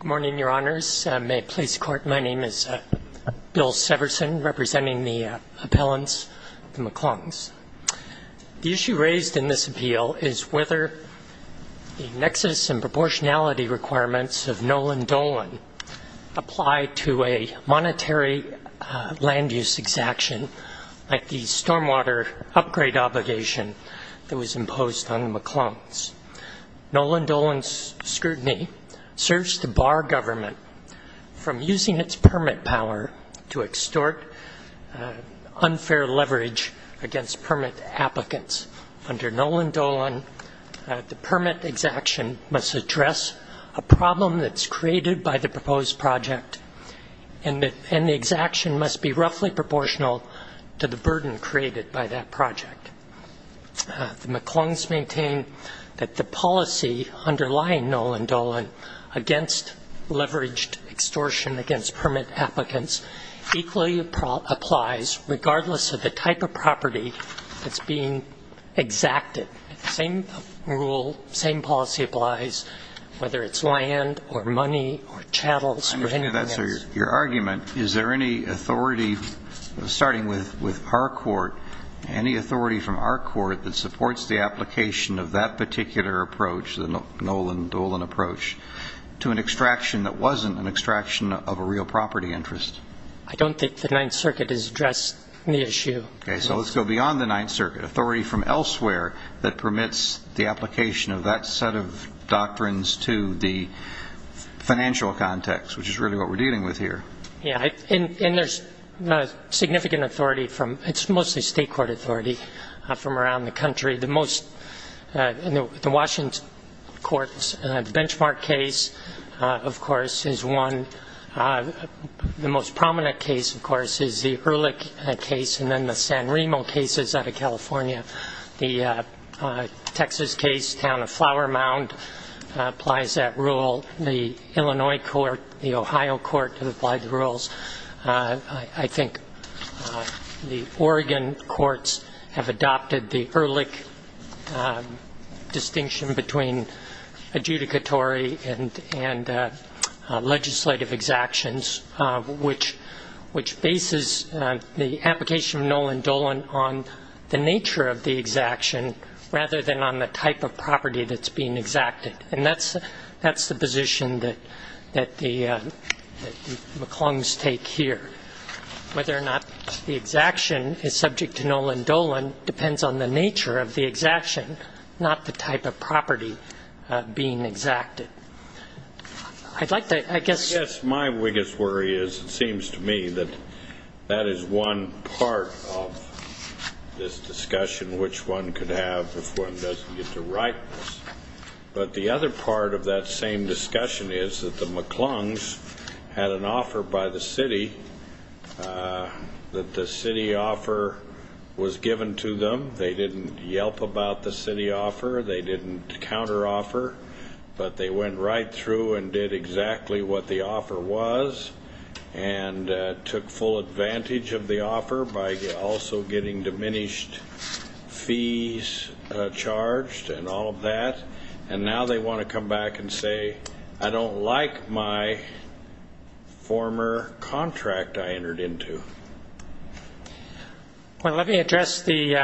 Good morning, your honors. May it please the court. My name is Bill Severson, representing the appellants, the McClungs. The issue raised in this appeal is whether the nexus and proportionality requirements of Nolan Dolan apply to a monetary land use exaction like the stormwater upgrade obligation that was imposed on the McClungs. Nolan Dolan's scrutiny serves to bar government from using its permit power to extort unfair leverage against permit applicants. Under Nolan Dolan, the permit exaction must address a problem that's created by the proposed project and the exaction must be roughly proportional to the burden created by that project. The McClungs maintain that the policy underlying Nolan Dolan against leveraged extortion against permit applicants equally applies regardless of the type of property that's being exacted. Same rule, same policy applies whether it's land or money or chattels or anything else. So your argument, is there any authority, starting with our court, any authority from our court that supports the application of that particular approach, the Nolan Dolan approach, to an extraction that wasn't an extraction of a real property interest? I don't think the Ninth Circuit has addressed the issue. Okay, so let's go beyond the Ninth Circuit. Authority from elsewhere that permits the application of that set of doctrines to the Yeah, and there's significant authority from, it's mostly state court authority from around the country. The most, the Washington court's benchmark case, of course, is one, the most prominent case, of course, is the Ehrlich case and then the San Remo cases out of California. The Texas case, town of Flower Mound, applies that rule. The Illinois court, the Ohio court applies the rules. I think the Oregon courts have adopted the Ehrlich distinction between adjudicatory and legislative exactions, which bases the application of Nolan Dolan on the nature of the exaction rather than on the type of property that's being exacted. And that's the position that the McClungs take here, whether or not the exaction is subject to Nolan Dolan depends on the nature of the exaction, not the type of property being exacted. I'd like to, I guess, I guess my biggest worry is, it seems to me, that that is one part of this discussion, which one could have if one doesn't get to write this. But the other part of that same discussion is that the McClungs had an offer by the city, that the city offer was given to them. They didn't yelp about the city offer, they didn't counter offer, but they went right through and did exactly what the offer was and took full advantage of the offer by also getting diminished fees charged and all of that. And now they want to come back and say, I don't like my former contract I entered into. Well, let me address the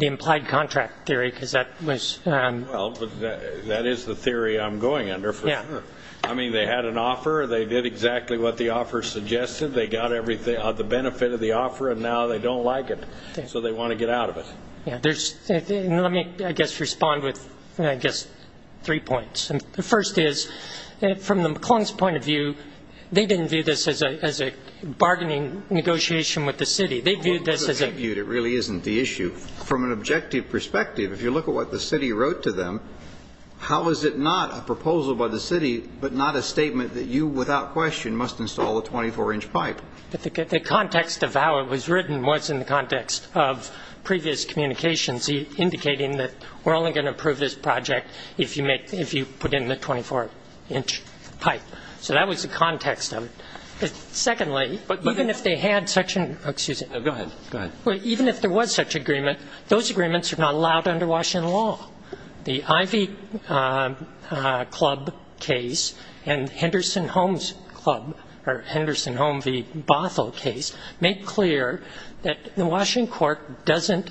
implied contract theory, because that was... Well, that is the theory I'm going under for sure. I mean, they had an offer, they did exactly what the offer suggested, they got everything of the benefit of the offer, and now they don't like it, so they want to get out of it. Yeah, there's... Let me, I guess, respond with, I guess, three points. The first is, from the McClungs' point of view, they didn't view this as a bargaining negotiation with the city. They viewed this as a... It really isn't the issue. From an objective perspective, if you look at what the city wrote to them, how is it not a proposal by the city, but not a statement that you, without question, must install a 24-inch pipe? The context of how it was written was in the context of previous communications indicating that we're only going to approve this project if you put in the 24-inch pipe. So that was the context of it. Secondly, even if they had such an... Excuse me. No, go ahead. Go ahead. Even if there was such agreement, those agreements are not allowed under Washington law. The Ivy Club case and Henderson Homes Club, or Henderson Home v. Bothell case, make clear that the Washington court doesn't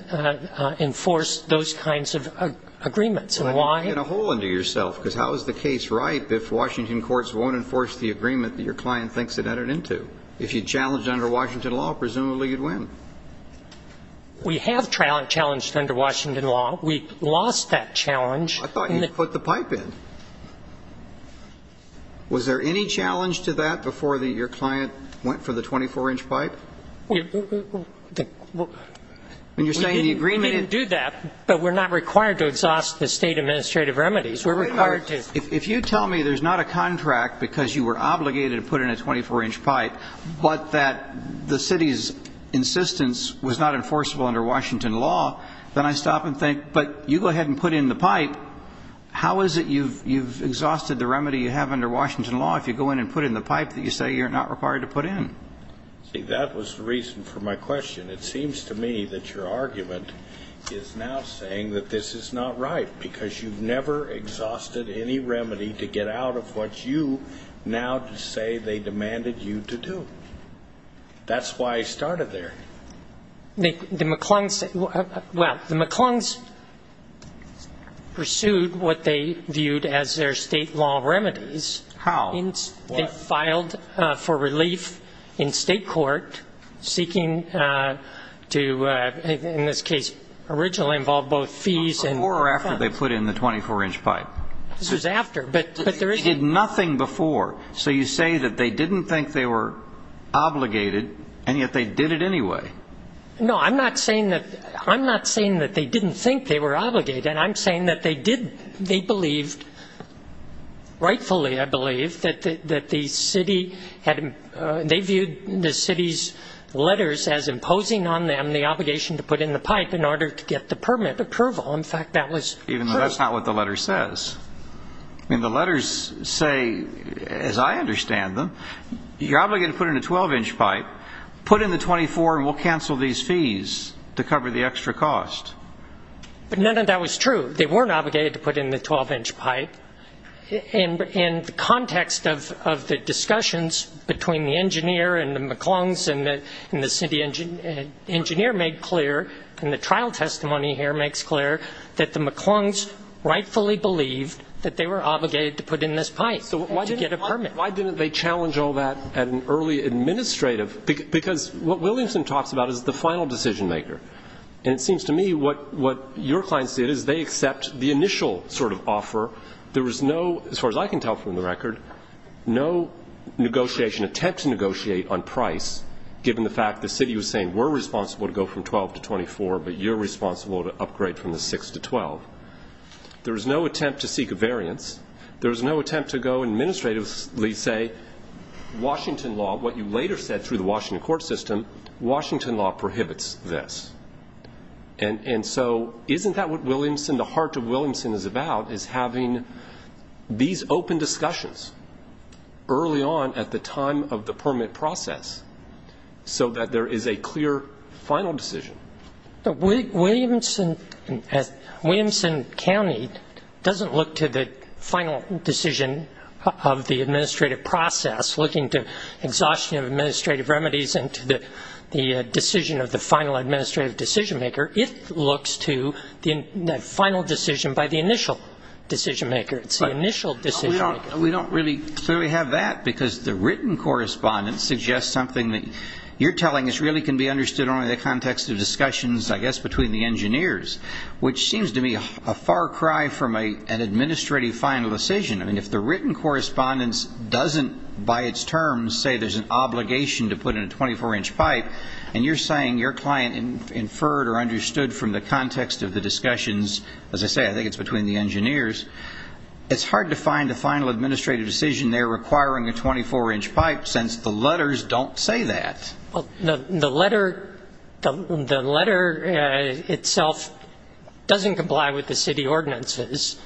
enforce those kinds of agreements. And why... Well, you're getting a hole into yourself, because how is the case ripe if Washington courts won't enforce the agreement that your client thinks it entered into? If you challenge it under Washington law, presumably you'd win. We have challenged it under Washington law. We lost that challenge. I thought you put the pipe in. Was there any challenge to that before your client went for the 24-inch pipe? When you're saying the agreement... We didn't do that, but we're not required to exhaust the state administrative remedies. We're required to... Wait a minute. If you tell me there's not a contract because you were obligated to put in a 24-inch pipe, but that the city's insistence was not enforceable under Washington law, then I stop and think, but you go ahead and put in the pipe, how is it you've exhausted the remedy you have under Washington law if you go in and put in the pipe that you say you're not required to put in? See, that was the reason for my question. It seems to me that your argument is now saying that this is not right, because you've never exhausted any remedy to get out of what you now say they demanded you to do. That's why I started there. The McClung's pursued what they viewed as their state law remedies. How? They filed for relief in state court, seeking to, in this case, originally involve both fees and funds. Before or after they put in the 24-inch pipe? This was after, but there is... You did nothing before. So you say that they didn't think they were obligated, and yet they did it anyway. No, I'm not saying that they didn't think they were obligated. I'm saying that they believed, rightfully I believe, that the city had... They viewed the city's letters as imposing on them the obligation to put in the pipe in order to get the permit approval. In fact, that was... Even though that's not what the letter says. I mean, the letters say, as I understand them, you're obligated to put in a 12-inch pipe. Put in the 24, and we'll cancel these fees to cover the extra cost. But none of that was true. They weren't obligated to put in the 12-inch pipe. In the context of the discussions between the engineer and the McClung's and the city engineer made clear, and the trial testimony here makes clear, that the McClung's rightfully believed that they were obligated to put in this pipe to get a permit. Why didn't they challenge all that at an early administrative... Because what Williamson talks about is the final decision maker. And it seems to me what your clients did is they accept the initial sort of offer. There was no... As far as I can tell from the record, no negotiation attempt to negotiate on price, given the fact the city was saying, we're responsible to go from 12 to 24, but you're responsible to upgrade from the 6 to 12. There was no attempt to seek a variance. There was no attempt to go and administratively say, Washington law, what you later said through the Washington court system, Washington law prohibits this. And so isn't that what Williamson, the heart of Williamson is about, is having these open discussions early on at the time of the permit process so that there is a clear final decision? Williamson County doesn't look to the final decision of the administrative process, looking to exhaustion of administrative remedies and to the decision of the final administrative decision maker. It looks to the final decision by the initial decision maker. It's the initial decision maker. We don't really clearly have that because the written correspondence suggests something that you're telling us really can be understood only in the context of discussions, I guess, between the engineers, which seems to me a far cry from an administrative final decision. I mean, if the written correspondence doesn't, by its terms, say there's an obligation to put in a 24-inch pipe, and you're saying your client inferred or understood from the context of the discussions, as I say, I think it's between the engineers, it's hard to find a final administrative decision there requiring a 24-inch pipe since the letters don't say that. Well, the letter itself doesn't comply with the city ordinances.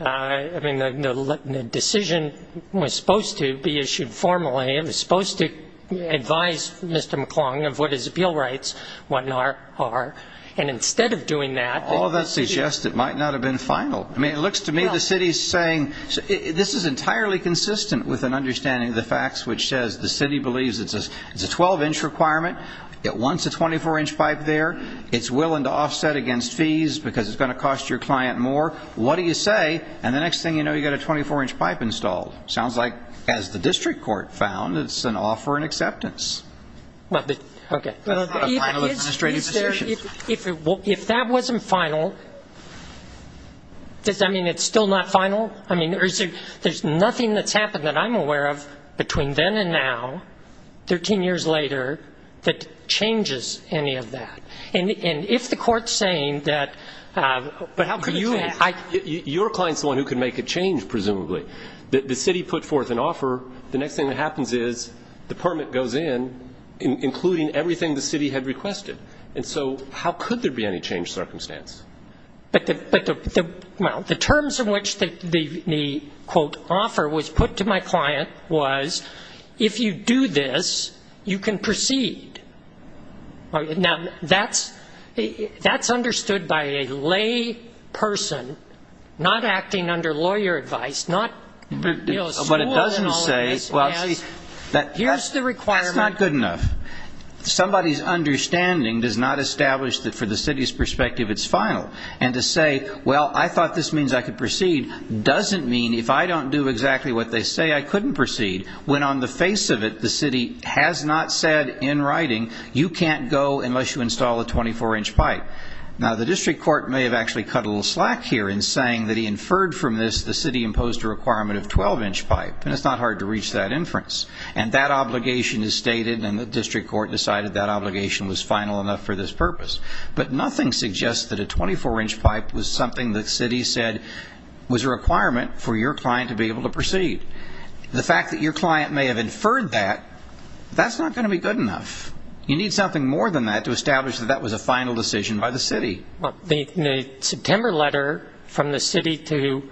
I mean, the decision was supposed to be issued formally. It was supposed to advise Mr. McClung of what his appeal rights are, and instead of doing that... All of that suggests it might not have been final. I mean, it looks to me the city is saying, this is entirely consistent with an understanding of the facts, which says the city believes it's a 12-inch requirement. It wants a 24-inch pipe there. It's willing to offset against fees because it's going to cost your client more. What do you say? And the next thing you know, you've got a 24-inch pipe installed. Sounds like, as the district court found, it's an offer and acceptance. Well, but... Okay. That's not a final administrative decision. If that wasn't final, does that mean it's still not final? I mean, there's nothing that's happened that I'm aware of between then and now, 13 years later, that changes any of that. And if the court's saying that... But how could it change? Your client's the one who could make a change, presumably. The city put forth an offer. The next thing that happens is the permit goes in, including everything the city had requested. And so how could there be any change circumstance? But the terms in which the, quote, offer was put to my client was, if you do this, you can proceed. Now, that's understood by a lay person, not acting under lawyer advice, not, you know, school and all of this. But it doesn't say... Here's the requirement. That's not good enough. Somebody's understanding does not establish that, for the city's perspective, it's final. And to say, well, I thought this means I could proceed, doesn't mean, if I don't do exactly what they say, I couldn't proceed, when on the face of it, the city has not said in writing, you can't go unless you install a 24-inch pipe. Now, the district court may have actually cut a little slack here in saying that he inferred from this the city imposed a requirement of 12-inch pipe, and it's not hard to reach that inference. And that obligation is stated, and the district court decided that obligation was final enough for this purpose. But nothing suggests that a 24-inch pipe was something the city said was a requirement for your client to be able to proceed. The fact that your client may have inferred that, that's not going to be good enough. You need something more than that to establish that that was a final decision by the city. Well, the September letter from the city to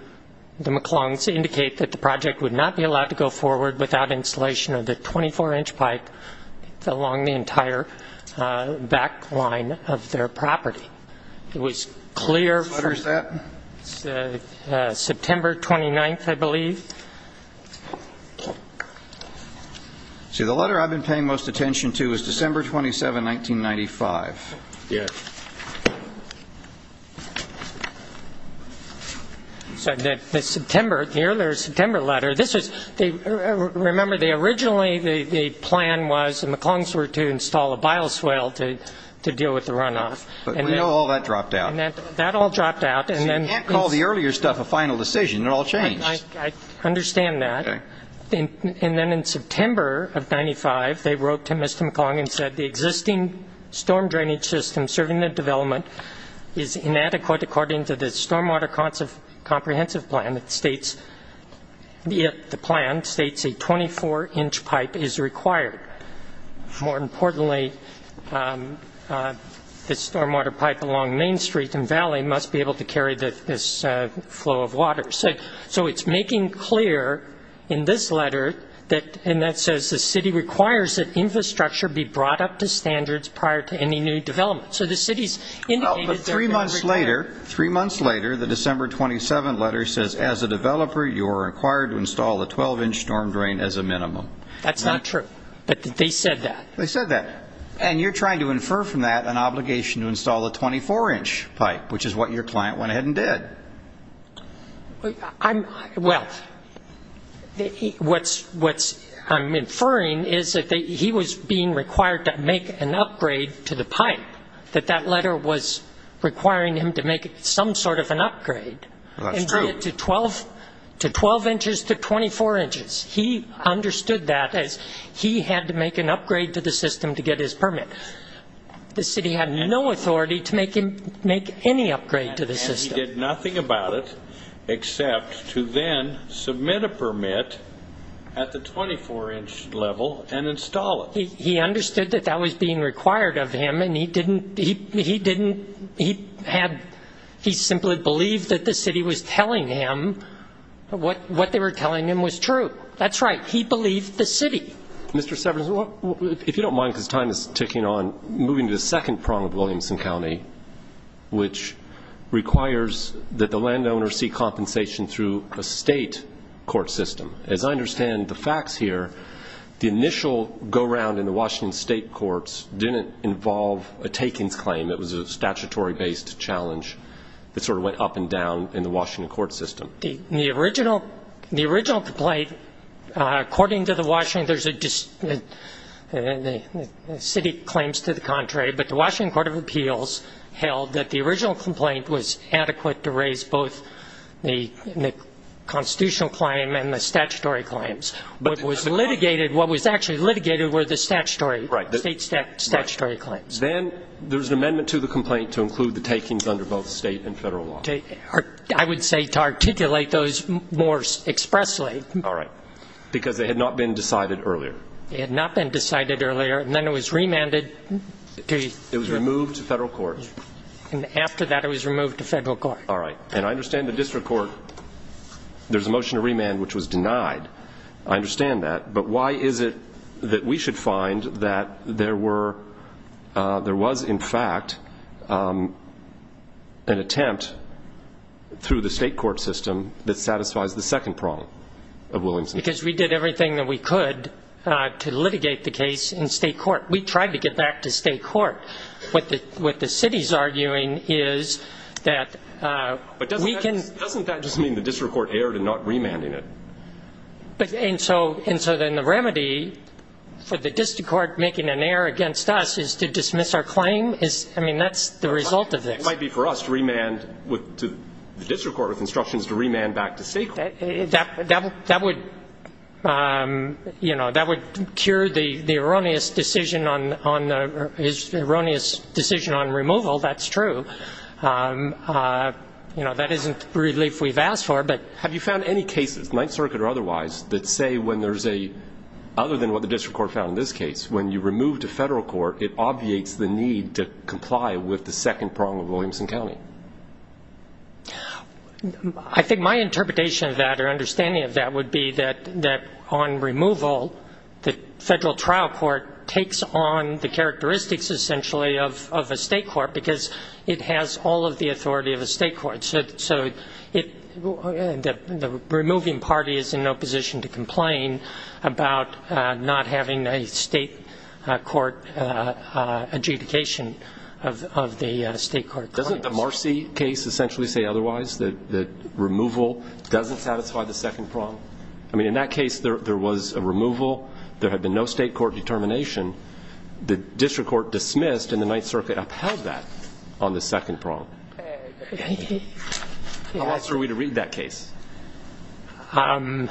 the McClung's indicate that the project would not be allowed to go forward without installation of the 24-inch pipe along the entire back line of their property. It was clear from September 29th, I believe. See, the letter I've been paying most attention to is December 27, 1995. Yes. So the September, the earlier September letter, this was, remember, originally the plan was the McClung's were to install a bioswale to deal with the runoff. But we know all that dropped out. That all dropped out. So you can't call the earlier stuff a final decision. It all changed. I understand that. And then in September of 95, they wrote to Mr. McClung and said the existing storm drainage system serving the development is inadequate according to the stormwater comprehensive plan that states, the plan states a 24-inch pipe is required. More importantly, the stormwater pipe along Main Street and Valley must be able to carry this flow of water. So it's making clear in this letter that, and that says the city requires that infrastructure be brought up to standards prior to any new development. So the city's indicated that... Well, but three months later, three months later, the December 27 letter says, as a developer, you are required to install a 12-inch storm drain as a minimum. That's not true. But they said that. They said that. And you're trying to infer from that an obligation to install a 24-inch pipe, which is what your client went ahead and did. Well, what I'm inferring is that he was being required to make an upgrade to the pipe, that that letter was requiring him to make some sort of an upgrade. That's true. And did it to 12 inches to 24 inches. He understood that as he had to make an upgrade to the system to get his permit. The city had no authority to make him make any upgrade to the system. He did nothing about it except to then submit a permit at the 24-inch level and install it. He understood that that was being required of him, and he didn't, he didn't, he had, he simply believed that the city was telling him what they were telling him was true. That's right. He believed the city. Mr. Severance, if you don't mind, because time is ticking on, moving to the second prong of Williamson County, which requires that the landowner see compensation through a state court system. As I understand the facts here, the initial go-round in the Washington state courts didn't involve a takings claim. It was a statutory-based challenge that sort of went up and down in the Washington court system. The original, the original complaint, according to the Washington, there's a, the city claims to the contrary, but the Washington Court of Appeals held that the original complaint was adequate to raise both the constitutional claim and the statutory claims. What was litigated, what was actually litigated were the statutory, state statutory claims. Then there's an amendment to the complaint to include the takings under both state and federal law. I would say to articulate those more expressly. All right. Because they had not been decided earlier. It had not been decided earlier, and then it was remanded to the... It was removed to federal court. And after that, it was removed to federal court. All right. And I understand the district court, there's a motion to remand, which was denied. I understand that. But why is it that we should find that there were, there was, in fact, an attempt through the state court system that satisfies the second prong of Williamson County? Because we did everything that we could to litigate the case in state court. We tried to get back to state court. What the city's arguing is that we can... Doesn't that just mean the district court erred in not remanding it? And so then the remedy for the district court making an error against us is to dismiss our claim? I mean, that's the result of this. It might be for us to remand to the district court with instructions to remand back to state court. That would, you know, that would cure the erroneous decision on removal. That's true. You know, that isn't relief we've asked for, but... Have you found any cases, Ninth Circuit or otherwise, that say when there's a... Other than what the district court found in this case, when you remove to federal court, it obviates the need to comply with the second prong of Williamson County? I think my interpretation of that or understanding of that would be that on removal, the federal trial court takes on the characteristics essentially of a state court because it has all of the authority of a state court. So the removing party is in no position to complain about not having a state court adjudication of the state court claim. Doesn't the Marcy case essentially say otherwise, that removal doesn't satisfy the second prong? I mean, in that case, there was a removal. There had been no state court determination. The district court dismissed, and the Ninth Circuit upheld that on the second prong. How else are we to read that case? Well,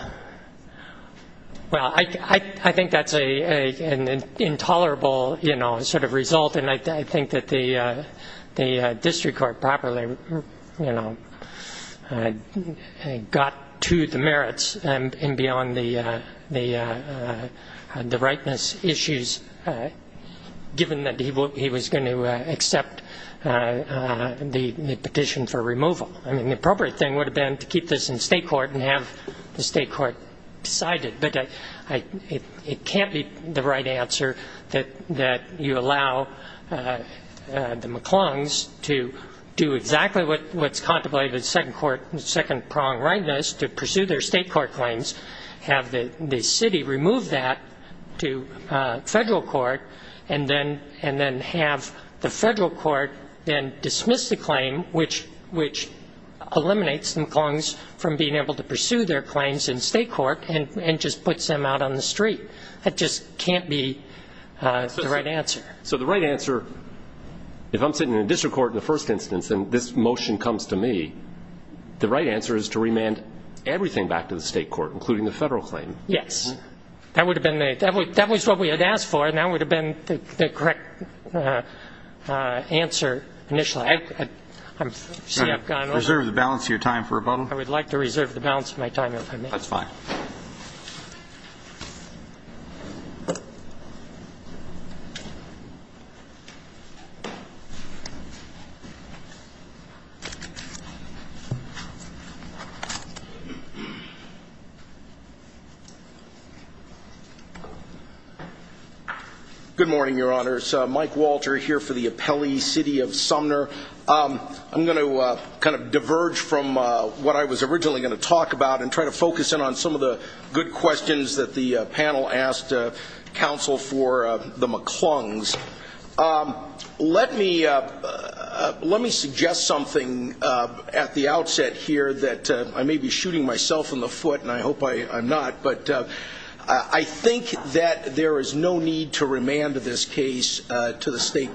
I think that's an intolerable, you know, sort of result. And I think that the district court probably, you know, got to the merits and beyond the rightness issues, given that he was going to accept the petition for removal. I mean, the appropriate thing would have been to keep this in state court and have the state court decide it. But it can't be the right answer that you allow the McClungs to do exactly what's contemplated in the second prong rightness, to pursue their state court claims, have the city remove that to federal court, and then have the federal court then dismiss the claim, which eliminates the McClungs from being able to pursue their claims in state court and just puts them out on the street. That just can't be the right answer. So the right answer, if I'm sitting in a district court in the first instance and this motion comes to me, the right answer is to remand everything back to the state court, including the federal claim. Yes. That would have been the, that was what we had asked for, and that would have been the correct answer initially. I'm sorry. Can I reserve the balance of your time for rebuttal? I would like to reserve the balance of my time, if I may. That's fine. Good morning, Your Honors. Mike Walter here for the Appellee City of Sumner. I'm going to kind of diverge from what I was originally going to talk about and try to focus in on some of the good questions that the panel asked counsel for the McClungs. Let me, let me suggest something at the outset here that I may be shooting myself in the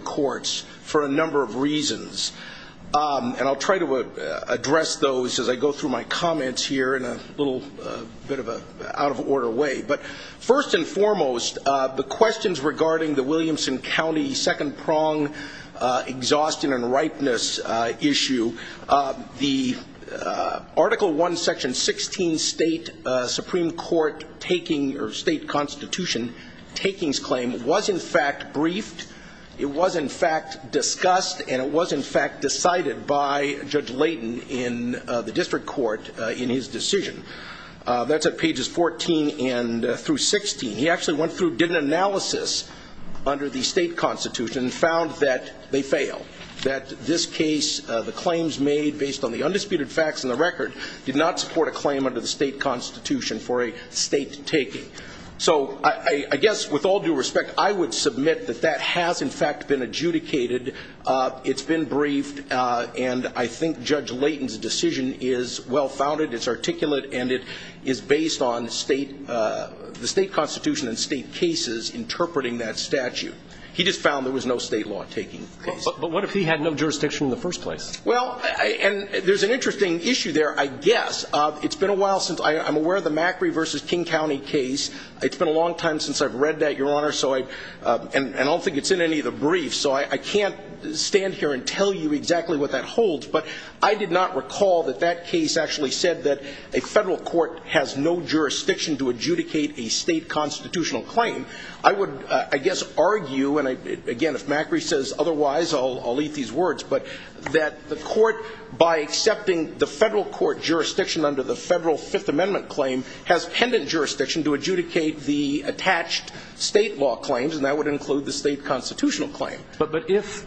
courts for a number of reasons, and I'll try to address those as I go through my comments here in a little bit of an out-of-order way. But first and foremost, the questions regarding the Williamson County second-prong exhaustion and ripeness issue, the Article I, Section 16 state Supreme Court taking, or state constitution takings claim, was in fact briefed. It was in fact discussed, and it was in fact decided by Judge Layton in the district court in his decision. That's at pages 14 through 16. He actually went through, did an analysis under the state constitution, and found that they fail, that this case, the claims made based on the undisputed facts in the record, did not support a claim under the state constitution for a state taking. So I guess with all due respect, I would submit that that has in fact been adjudicated. It's been briefed, and I think Judge Layton's decision is well-founded, it's articulate, and it is based on the state constitution and state cases interpreting that statute. He just found there was no state law taking the case. But what if he had no jurisdiction in the first place? Well, and there's an interesting issue there, I guess. It's been a while since, I'm aware of the Macri versus King County case. It's been a long time since I've read that, Your Honor, so I, and I don't think it's in any of the briefs, so I can't stand here and tell you exactly what that holds. But I did not recall that that case actually said that a federal court has no jurisdiction to adjudicate a state constitutional claim. I would, I guess, argue, and again, if Macri says otherwise, I'll eat these words. But that the court, by accepting the federal court jurisdiction under the federal Fifth Amendment claim, has pendant jurisdiction to adjudicate the attached state law claims, and that would include the state constitutional claim. But, but if,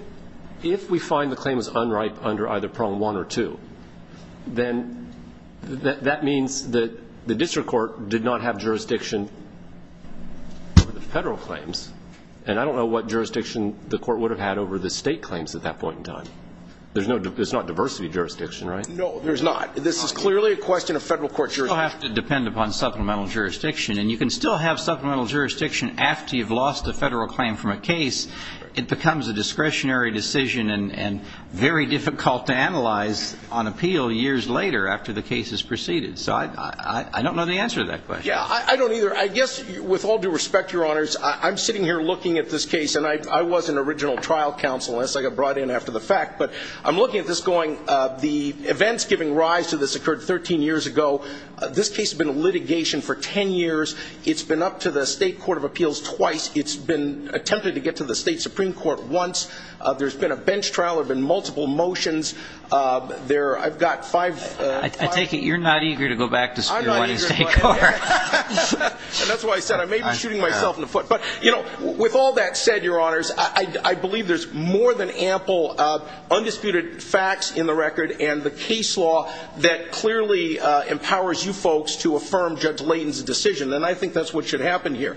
if we find the claim is unripe under either prong one or two, then that, that means that the district court did not have jurisdiction over the federal claims. And I don't know what jurisdiction the court would have had over the state claims at that point in time. There's no, there's not diversity jurisdiction, right? No, there's not. This is clearly a question of federal court jurisdiction. You'll have to depend upon supplemental jurisdiction, and you can still have supplemental jurisdiction after you've lost a federal claim from a case. It becomes a discretionary decision and, and very difficult to analyze on appeal years later after the case has proceeded. So I, I, I don't know the answer to that question. Yeah, I, I don't either. I guess, with all due respect, Your Honors, I, I'm sitting here looking at this case, and I, I was an original trial counselor, so I got brought in after the fact. But I'm looking at this going, the events giving rise to this occurred 13 years ago. This case has been in litigation for 10 years. It's been up to the state court of appeals twice. It's been attempted to get to the state Supreme Court once. There's been a bench trial. There have been multiple motions. There I've got five, five. I take it you're not eager to go back to the state court. And that's why I said I may be shooting myself in the foot. But, you know, with all that said, Your Honors, I, I, I believe there's more than ample undisputed facts in the record and the case law that clearly empowers you folks to affirm Judge Layton's decision. And I think that's what should happen here.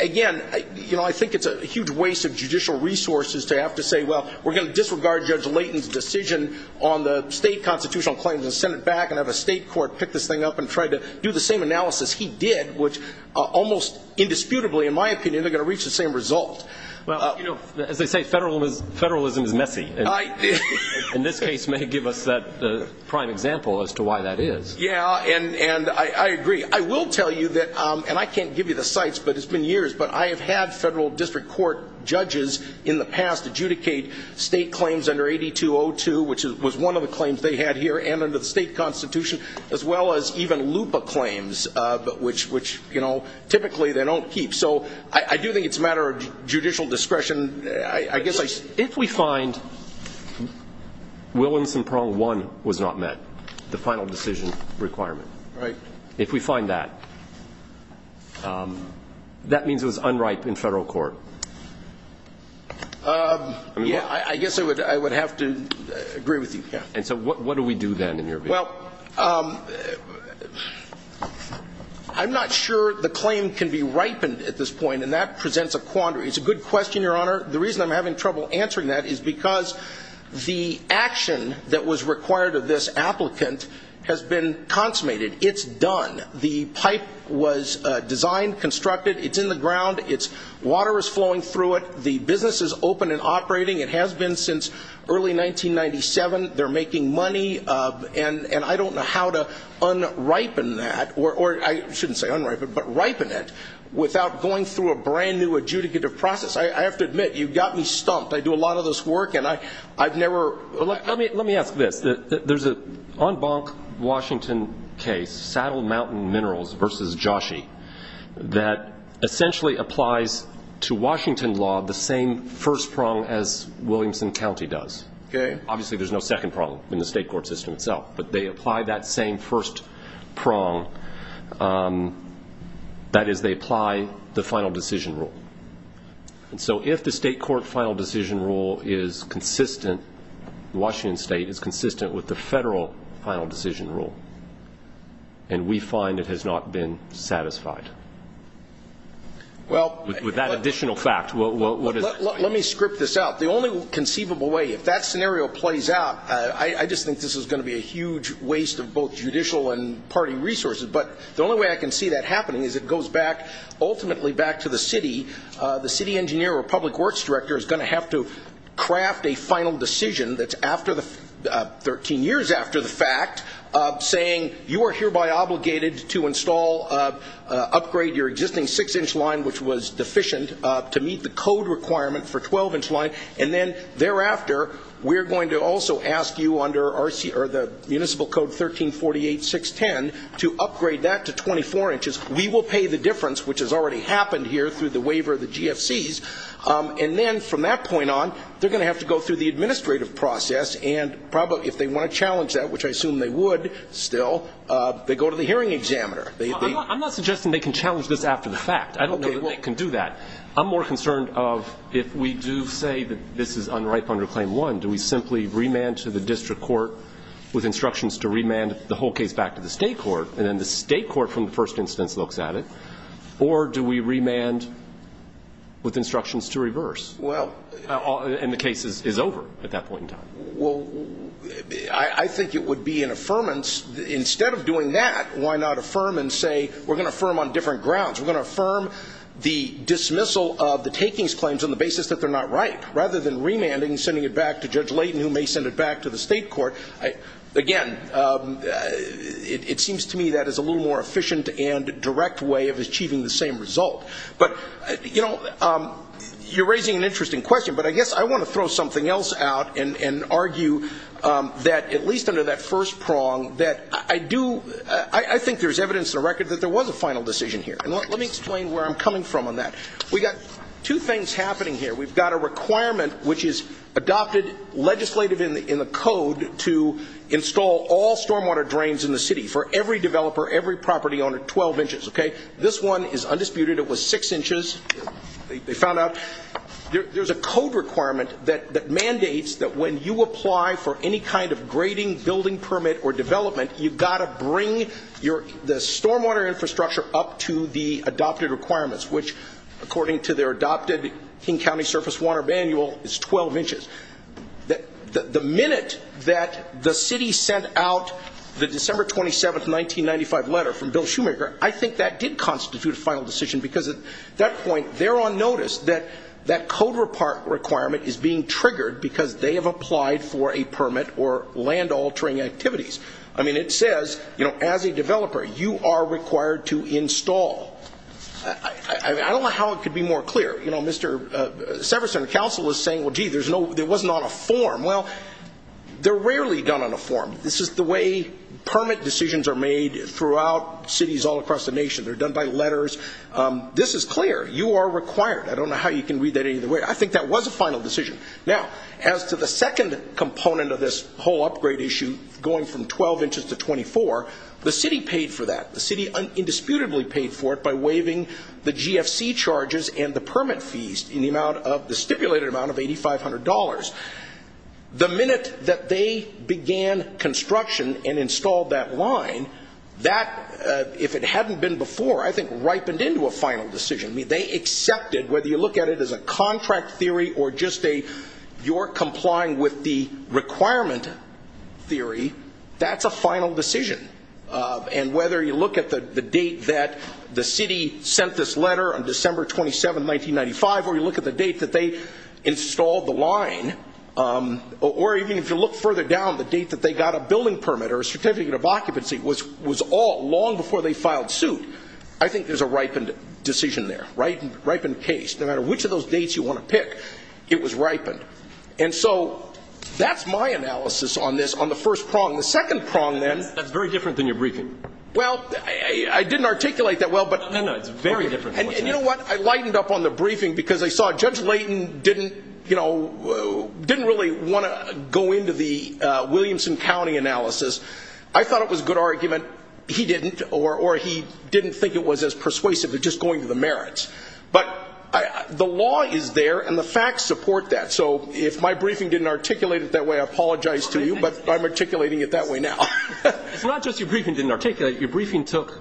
Again, you know, I think it's a huge waste of judicial resources to have to say, well, we're going to disregard Judge Layton's decision on the state constitutional claims and send it back and have a state court pick this thing up and try to do the same analysis he did, which almost indisputably, in my opinion, they're going to reach the same result. Well, you know, as they say, federalism is, federalism is messy, and this case may give us that prime example as to why that is. Yeah. And, and I, I agree. I will tell you that, and I can't give you the sites, but it's been years, but I have had federal district court judges in the past adjudicate state claims under 8202, which was one of the claims they had here and under the state constitution, as well as even LUPA claims, but which, which, you know, typically they don't keep. So I do think it's a matter of judicial discretion, I guess. If we find Williamson prong one was not met, the final decision requirement, right? If we find that, that means it was unripe in federal court. Yeah, I guess I would, I would have to agree with you. And so what do we do then in your view? Well, I'm not sure the claim can be ripened at this point, and that presents a quandary. It's a good question, Your Honor. The reason I'm having trouble answering that is because the action that was required of this applicant has been consummated. It's done. The pipe was designed, constructed. It's in the ground. It's, water is flowing through it. The business is open and operating. It has been since early 1997. They're making money and, and I don't know how to unripen that or I shouldn't say unripen, but ripen it without going through a brand new adjudicative process. I have to admit, you've got me stumped. I do a lot of this work and I, I've never, let me, let me ask this. There's a on bonk Washington case, Saddle Mountain Minerals versus Joshi that essentially applies to Washington law, the same first prong as Williamson County does. Okay. Obviously there's no second prong in the state court system itself, but they apply that same first prong, um, that is they apply the final decision rule. And so if the state court final decision rule is consistent, Washington state is consistent with the federal final decision rule and we find it has not been satisfied. Well, with that additional fact, well, let me script this out. The only conceivable way, if that scenario plays out, I just think this is going to be a huge waste of both judicial and party resources. But the only way I can see that happening is it goes back ultimately back to the city. The city engineer or public works director is going to have to craft a final decision that's after the 13 years after the fact of saying you are hereby obligated to install, upgrade your existing six inch line, which was deficient to meet the code requirement for 12 inch line. And then thereafter, we're going to also ask you under RC or the municipal code 1348, 610 to upgrade that to 24 inches. We will pay the difference, which has already happened here through the waiver of the GFCs. And then from that point on, they're going to have to go through the administrative process and probably if they want to challenge that, which I assume they would still, uh, they go to the hearing examiner. I'm not suggesting they can challenge this after the fact. I don't know that they can do that. I'm more concerned of if we do say that this is unripe under claim one, do we simply remand to the district court with instructions to remand the whole case back to the state court and then the state court from the first instance looks at it or do we remand with instructions to reverse? Well, and the case is over at that point in time. Well, I think it would be an affirmance instead of doing that. Why not affirm and say, we're going to affirm on different grounds. We're going to affirm the dismissal of the takings claims on the basis that they're not ripe rather than remanding and sending it back to Judge Layton who may send it back to the state court. Again, it seems to me that is a little more efficient and direct way of achieving the same result. But you know, you're raising an interesting question, but I guess I want to throw something else out and argue that at least under that first prong that I do, I think there's evidence in the record that there was a final decision here. And let me explain where I'm coming from on that. We got two things happening here. We've got a requirement which is adopted legislative in the code to install all stormwater drains in the city for every developer, every property owner, 12 inches, okay? This one is undisputed. It was six inches. They found out. There's a code requirement that mandates that when you apply for any kind of grading, building permit or development, you've got to bring the stormwater infrastructure up to the adopted requirements, which according to their adopted King County surface water manual is 12 inches. The minute that the city sent out the December 27, 1995 letter from Bill Shoemaker, I think that did constitute a final decision because at that point, they're on notice that that code requirement is being triggered because they have applied for a permit or land altering activities. I mean, it says, you know, as a developer, you are required to install, I don't know how it could be more clear. You know, Mr. Severson, the council is saying, well, gee, there's no, there was not a form. Well, they're rarely done on a form. This is the way permit decisions are made throughout cities all across the nation. They're done by letters. This is clear. You are required. I don't know how you can read that either way. I think that was a final decision. Now, as to the second component of this whole upgrade issue, going from 12 inches to 24, the city paid for that. The city indisputably paid for it by waiving the GFC charges and the permit fees in the amount of the stipulated amount of $8,500. The minute that they began construction and installed that line, that, if it hadn't been before, I think ripened into a final decision. I mean, they accepted, whether you look at it as a contract theory or just a, you're complying with the requirement theory, that's a final decision. And whether you look at the date that the city sent this letter on December 27, 1995, or you look at the date that they installed the line, or even if you look further down, the date that they got a building permit or a certificate of occupancy was all long before they filed suit. I think there's a ripened decision there, ripened case. No matter which of those dates you want to pick, it was ripened. And so that's my analysis on this, on the first prong. The second prong then- That's very different than your briefing. Well, I didn't articulate that well, but- No, no. It's very different. And you know what? I lightened up on the briefing because I saw Judge Layton didn't really want to go into the Williamson County analysis. I thought it was a good argument. He didn't, or he didn't think it was as persuasive as just going to the merits. But the law is there, and the facts support that. So if my briefing didn't articulate it that way, I apologize to you, but I'm articulating it that way now. It's not just your briefing didn't articulate it. Your briefing took-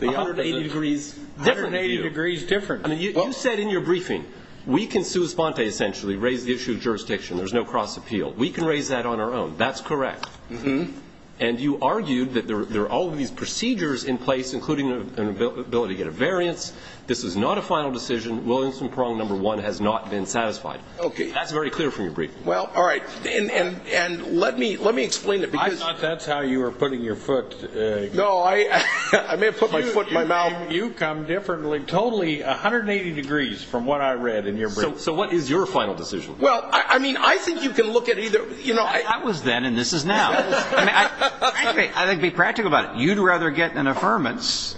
180 degrees. Different view. 180 degrees different. I mean, you said in your briefing, we can sui sponte, essentially, raise the issue of jurisdiction. There's no cross appeal. We can raise that on our own. That's correct. And you argued that there are all of these procedures in place, including an ability to get a variance. This is not a final decision. Williamson prong number one has not been satisfied. Okay. That's very clear from your briefing. Well, all right. And, and, and let me, let me explain it. Because- I thought that's how you were putting your foot. No, I, I may have put my foot in my mouth. You come differently, totally 180 degrees from what I read in your briefing. So what is your final decision? Well, I mean, I think you can look at either, you know- I mean, I was then, and this is now. I mean, I think it'd be practical about it. You'd rather get an affirmance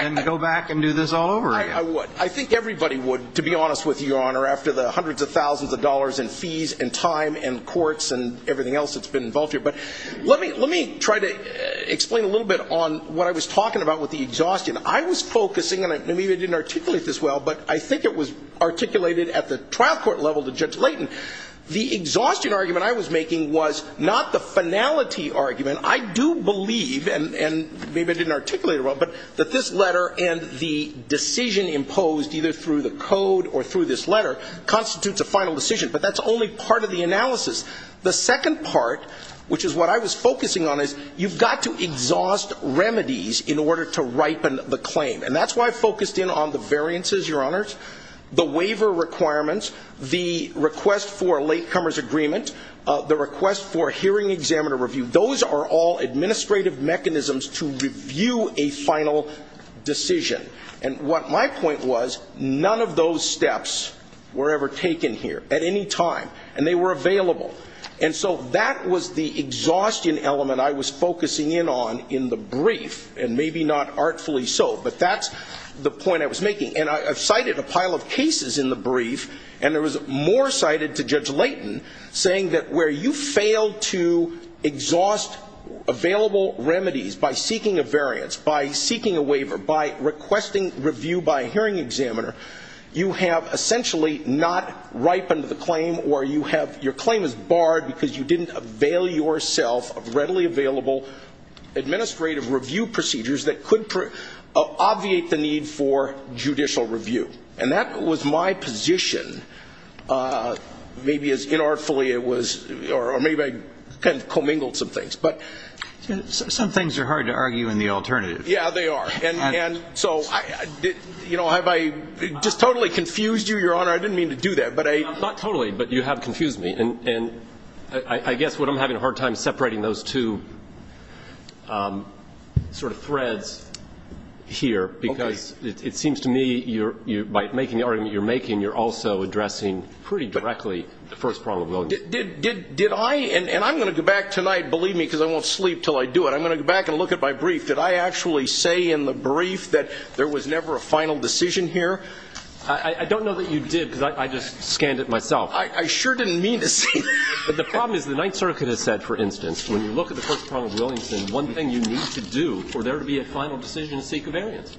than go back and do this all over again. I would. I think everybody would, to be honest with you, Your Honor, after the hundreds of thousands of dollars in fees and time and courts and everything else that's been involved here. But let me, let me try to explain a little bit on what I was talking about with the exhaustion. I was focusing, and maybe I didn't articulate this well, but I think it was articulated at the trial court level to Judge Layton. The exhaustion argument I was making was not the finality argument. I do believe, and, and maybe I didn't articulate it well, but that this letter and the decision imposed either through the code or through this letter constitutes a final decision. But that's only part of the analysis. The second part, which is what I was focusing on, is you've got to exhaust remedies in order to ripen the claim. And that's why I focused in on the variances, Your Honors. The waiver requirements, the request for a latecomer's agreement, the request for a hearing examiner review, those are all administrative mechanisms to review a final decision. And what my point was, none of those steps were ever taken here at any time. And they were available. And so that was the exhaustion element I was focusing in on in the brief, and maybe not artfully so. But that's the point I was making. And I've cited a pile of cases in the brief, and there was more cited to Judge Layton, saying that where you fail to exhaust available remedies by seeking a variance, by seeking a waiver, by requesting review by a hearing examiner, you have essentially not ripened the claim or you have, your claim is barred because you didn't avail yourself of readily available administrative review procedures that could obviate the need for judicial review. And that was my position, maybe as inartfully it was, or maybe I kind of commingled some things. But... Some things are hard to argue in the alternative. Yeah, they are. And so, you know, have I just totally confused you, Your Honor? I didn't mean to do that, but I... Not totally, but you have confused me. And I guess what I'm having a hard time separating those two sort of threads here, because it seems to me you're, by making the argument you're making, you're also addressing pretty directly the first problem. Did I? And I'm going to go back tonight, believe me, because I won't sleep until I do it. I'm going to go back and look at my brief. Did I actually say in the brief that there was never a final decision here? I don't know that you did, because I just scanned it myself. I sure didn't mean to say that. But the problem is the Ninth Circuit has said, for instance, when you look at the First Prong of Williamson, one thing you need to do for there to be a final decision is seek a variance.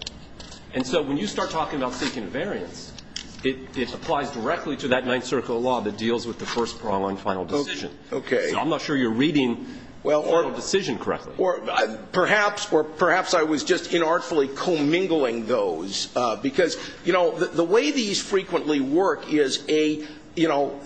And so when you start talking about seeking a variance, it applies directly to that Ninth Circuit law that deals with the first prong on final decision. Okay. So I'm not sure you're reading the final decision correctly. Perhaps or perhaps I was just inartfully commingling those, because, you know, the way these frequently work is a, you know,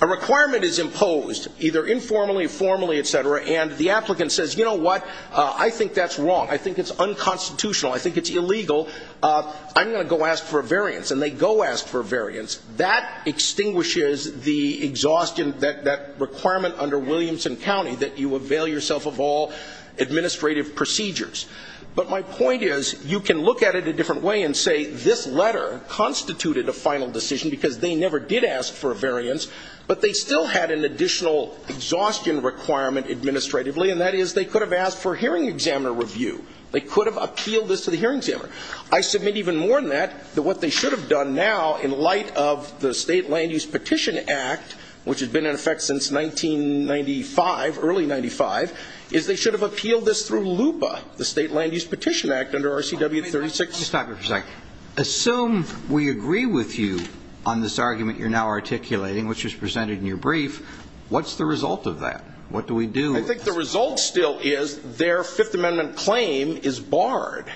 a requirement is imposed, either informally, formally, et cetera, and the applicant says, you know what, I think that's wrong. I think it's unconstitutional. I think it's illegal. I'm going to go ask for a variance. And they go ask for a variance. That extinguishes the exhaustion, that requirement under Williamson County that you avail yourself of all administrative procedures. But my point is you can look at it a different way and say this letter constituted a final decision because they never did ask for a variance, but they still had an additional exhaustion requirement administratively, and that is they could have asked for a hearing examiner review. They could have appealed this to the hearing examiner. I submit even more than that that what they should have done now in light of the State Land Use Petition Act, which has been in effect since 1995, early 1995, is they should have appealed this through LUPA, the State Land Use Petition Act under RCW 36. Let me stop you for a second. Assume we agree with you on this argument you're now articulating, which was presented in your brief. What's the result of that? What do we do? I think the result still is their Fifth Amendment claim is barred.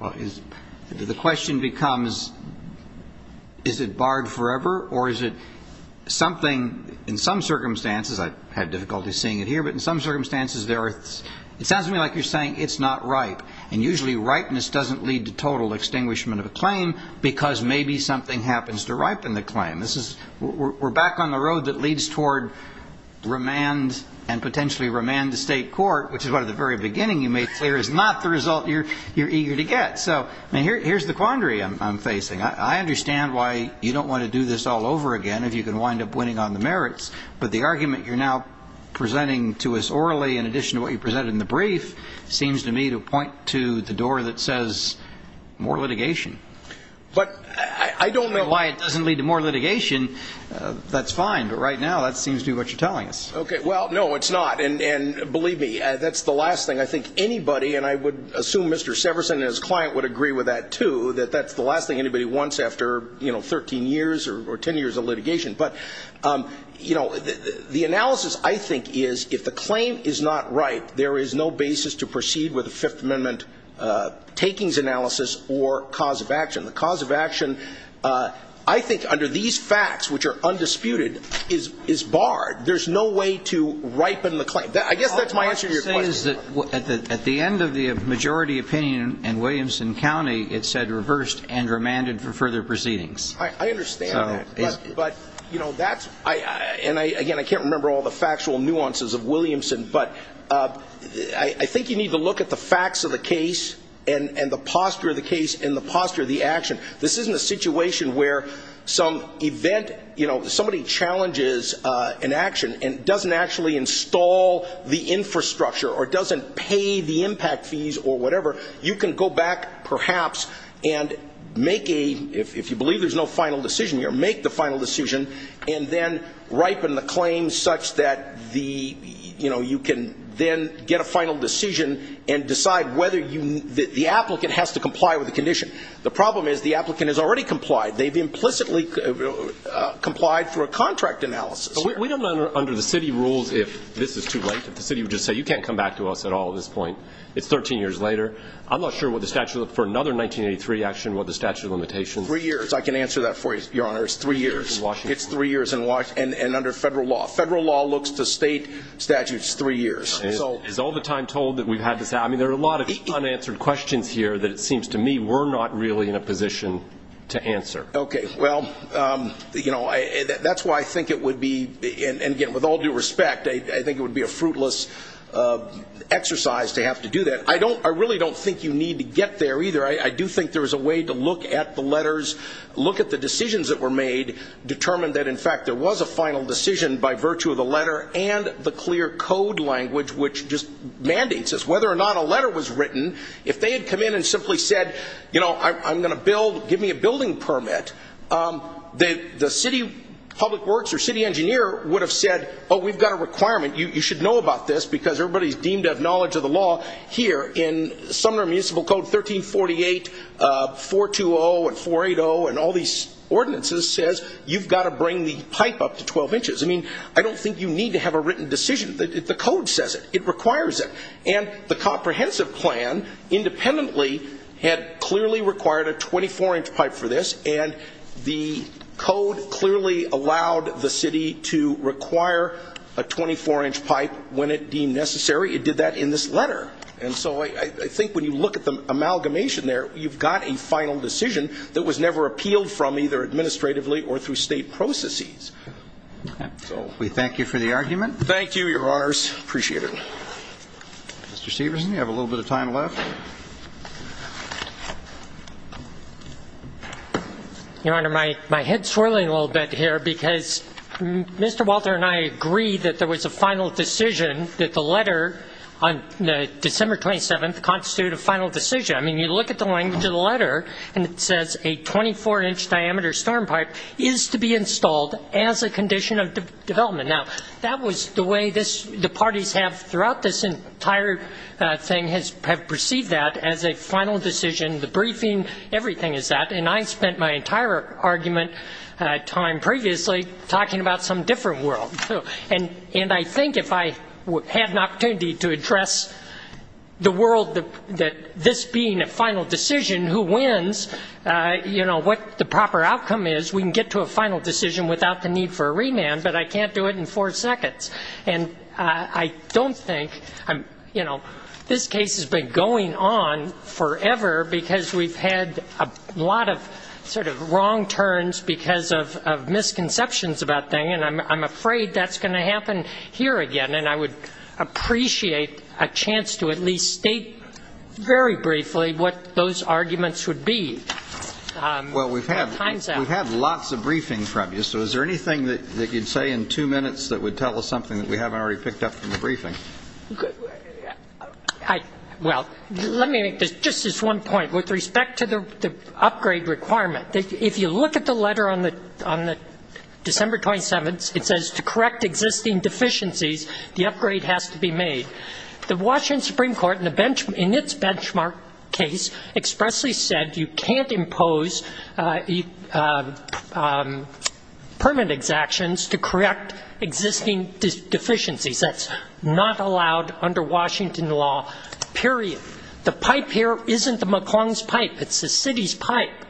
The question becomes is it barred forever or is it something, in some circumstances, I've had difficulty seeing it here, but in some circumstances, it sounds to me like you're saying it's not ripe. Usually ripeness doesn't lead to total extinguishment of a claim because maybe something happens to ripen the claim. We're back on the road that leads toward remand and potentially remand to state court, which is what at the very beginning you made clear is not the result you're eager to get. Here's the quandary I'm facing. I understand why you don't want to do this all over again if you can wind up winning on the merits, but the argument you're now presenting to us orally in addition to what you presented in the brief seems to me to point to the door that says more litigation. But I don't know why it doesn't lead to more litigation. That's fine, but right now that seems to be what you're telling us. Okay. Well, no, it's not. And believe me, that's the last thing I think anybody, and I would assume Mr. Severson and his client would agree with that too, that that's the last thing anybody wants after 13 years or 10 years of litigation. But, you know, the analysis I think is if the claim is not right, there is no basis to proceed with a Fifth Amendment takings analysis or cause of action. The cause of action, I think, under these facts, which are undisputed, is barred. There's no way to ripen the claim. I guess that's my answer to your question. What I'm trying to say is that at the end of the majority opinion in Williamson County, it said reversed and remanded for further proceedings. I understand that. But, you know, that's, and again, I can't remember all the factual nuances of Williamson, but I think you need to look at the facts of the case and the posture of the case and the posture of the action. This isn't a situation where some event, you know, somebody challenges an action and doesn't actually install the infrastructure or doesn't pay the impact fees or whatever. You can go back, perhaps, and make a, if you believe there's no final decision here, make the final decision and then ripen the claim such that the, you know, you can then get a final decision and decide whether you, the applicant has to comply with the condition. The problem is the applicant has already complied. They've implicitly complied through a contract analysis. We don't under the city rules, if this is too late, if the city would just say you can't come back to us at all at this point, it's 13 years later. I'm not sure what the statute, for another 1983 action, what the statute of limitations Three years. I can answer that for you, Your Honor. It's three years. It's three years and under federal law. Federal law looks to state statutes three years. Is all the time told that we've had to say, I mean, there are a lot of unanswered questions here that it seems to me we're not really in a position to answer. Okay. Well, you know, that's why I think it would be, and again, with all due respect, I think it would be a fruitless exercise to have to do that. I don't, I really don't think you need to get there either. I do think there was a way to look at the letters, look at the decisions that were made, determined that in fact there was a final decision by virtue of the letter and the clear code language, which just mandates us whether or not a letter was written. If they had come in and simply said, you know, I'm going to build, give me a building permit, the city public works or city engineer would have said, oh, we've got a requirement. You should know about this because everybody's deemed to have knowledge of the law here in Sumner Municipal Code 1348, 420 and 480 and all these ordinances says you've got to bring the pipe up to 12 inches. I mean, I don't think you need to have a written decision. The code says it. It requires it. And the comprehensive plan independently had clearly required a 24-inch pipe for this. And the code clearly allowed the city to require a 24-inch pipe when it deemed necessary. It did that in this letter. And so I think when you look at the amalgamation there, you've got a final decision that was never appealed from either administratively or through state processes. So. We thank you for the argument. Thank you, Your Honors. Appreciate it. Mr. Stevenson, you have a little bit of time left. Your Honor, my head's swirling a little bit here because Mr. Walter and I agree that there December 27th constituted a final decision. I mean, you look at the language of the letter and it says a 24-inch diameter storm pipe is to be installed as a condition of development. Now, that was the way the parties have throughout this entire thing have perceived that as a final decision. The briefing, everything is that. And I spent my entire argument time previously talking about some different world. And I think if I had an opportunity to address the world that this being a final decision, who wins, you know, what the proper outcome is, we can get to a final decision without the need for a remand, but I can't do it in four seconds. And I don't think, you know, this case has been going on forever because we've had a lot of sort of wrong turns because of misconceptions about things. And I'm afraid that's going to happen here again. And I would appreciate a chance to at least state very briefly what those arguments would be. Well, we've had lots of briefing from you, so is there anything that you'd say in two minutes that would tell us something that we haven't already picked up from the briefing? Well, let me make just this one point with respect to the upgrade requirement. If you look at the letter on the December 27th, it says to correct existing deficiencies, the upgrade has to be made. The Washington Supreme Court in its benchmark case expressly said you can't impose permit exactions to correct existing deficiencies. That's not allowed under Washington law, period. The pipe here isn't the McClung's pipe. It's the city's pipe.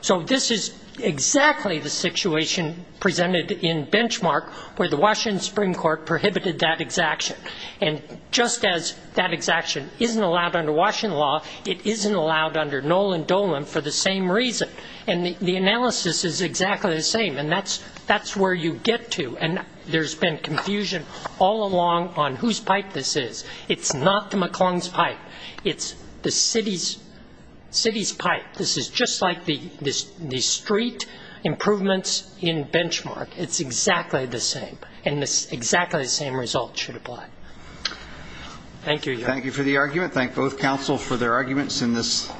So this is exactly the situation presented in benchmark where the Washington Supreme Court prohibited that exaction. And just as that exaction isn't allowed under Washington law, it isn't allowed under Nolan Dolan for the same reason. And the analysis is exactly the same. And that's where you get to. And there's been confusion all along on whose pipe this is. It's not the McClung's pipe. It's the city's pipe. This is just like the street improvements in benchmark. It's exactly the same. And exactly the same result should apply. Thank you, Your Honor. Thank you for the argument. Thank both counsel for their arguments in this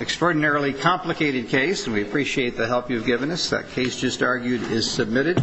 extraordinarily complicated case. We appreciate the help you've given us. That case just argued is submitted.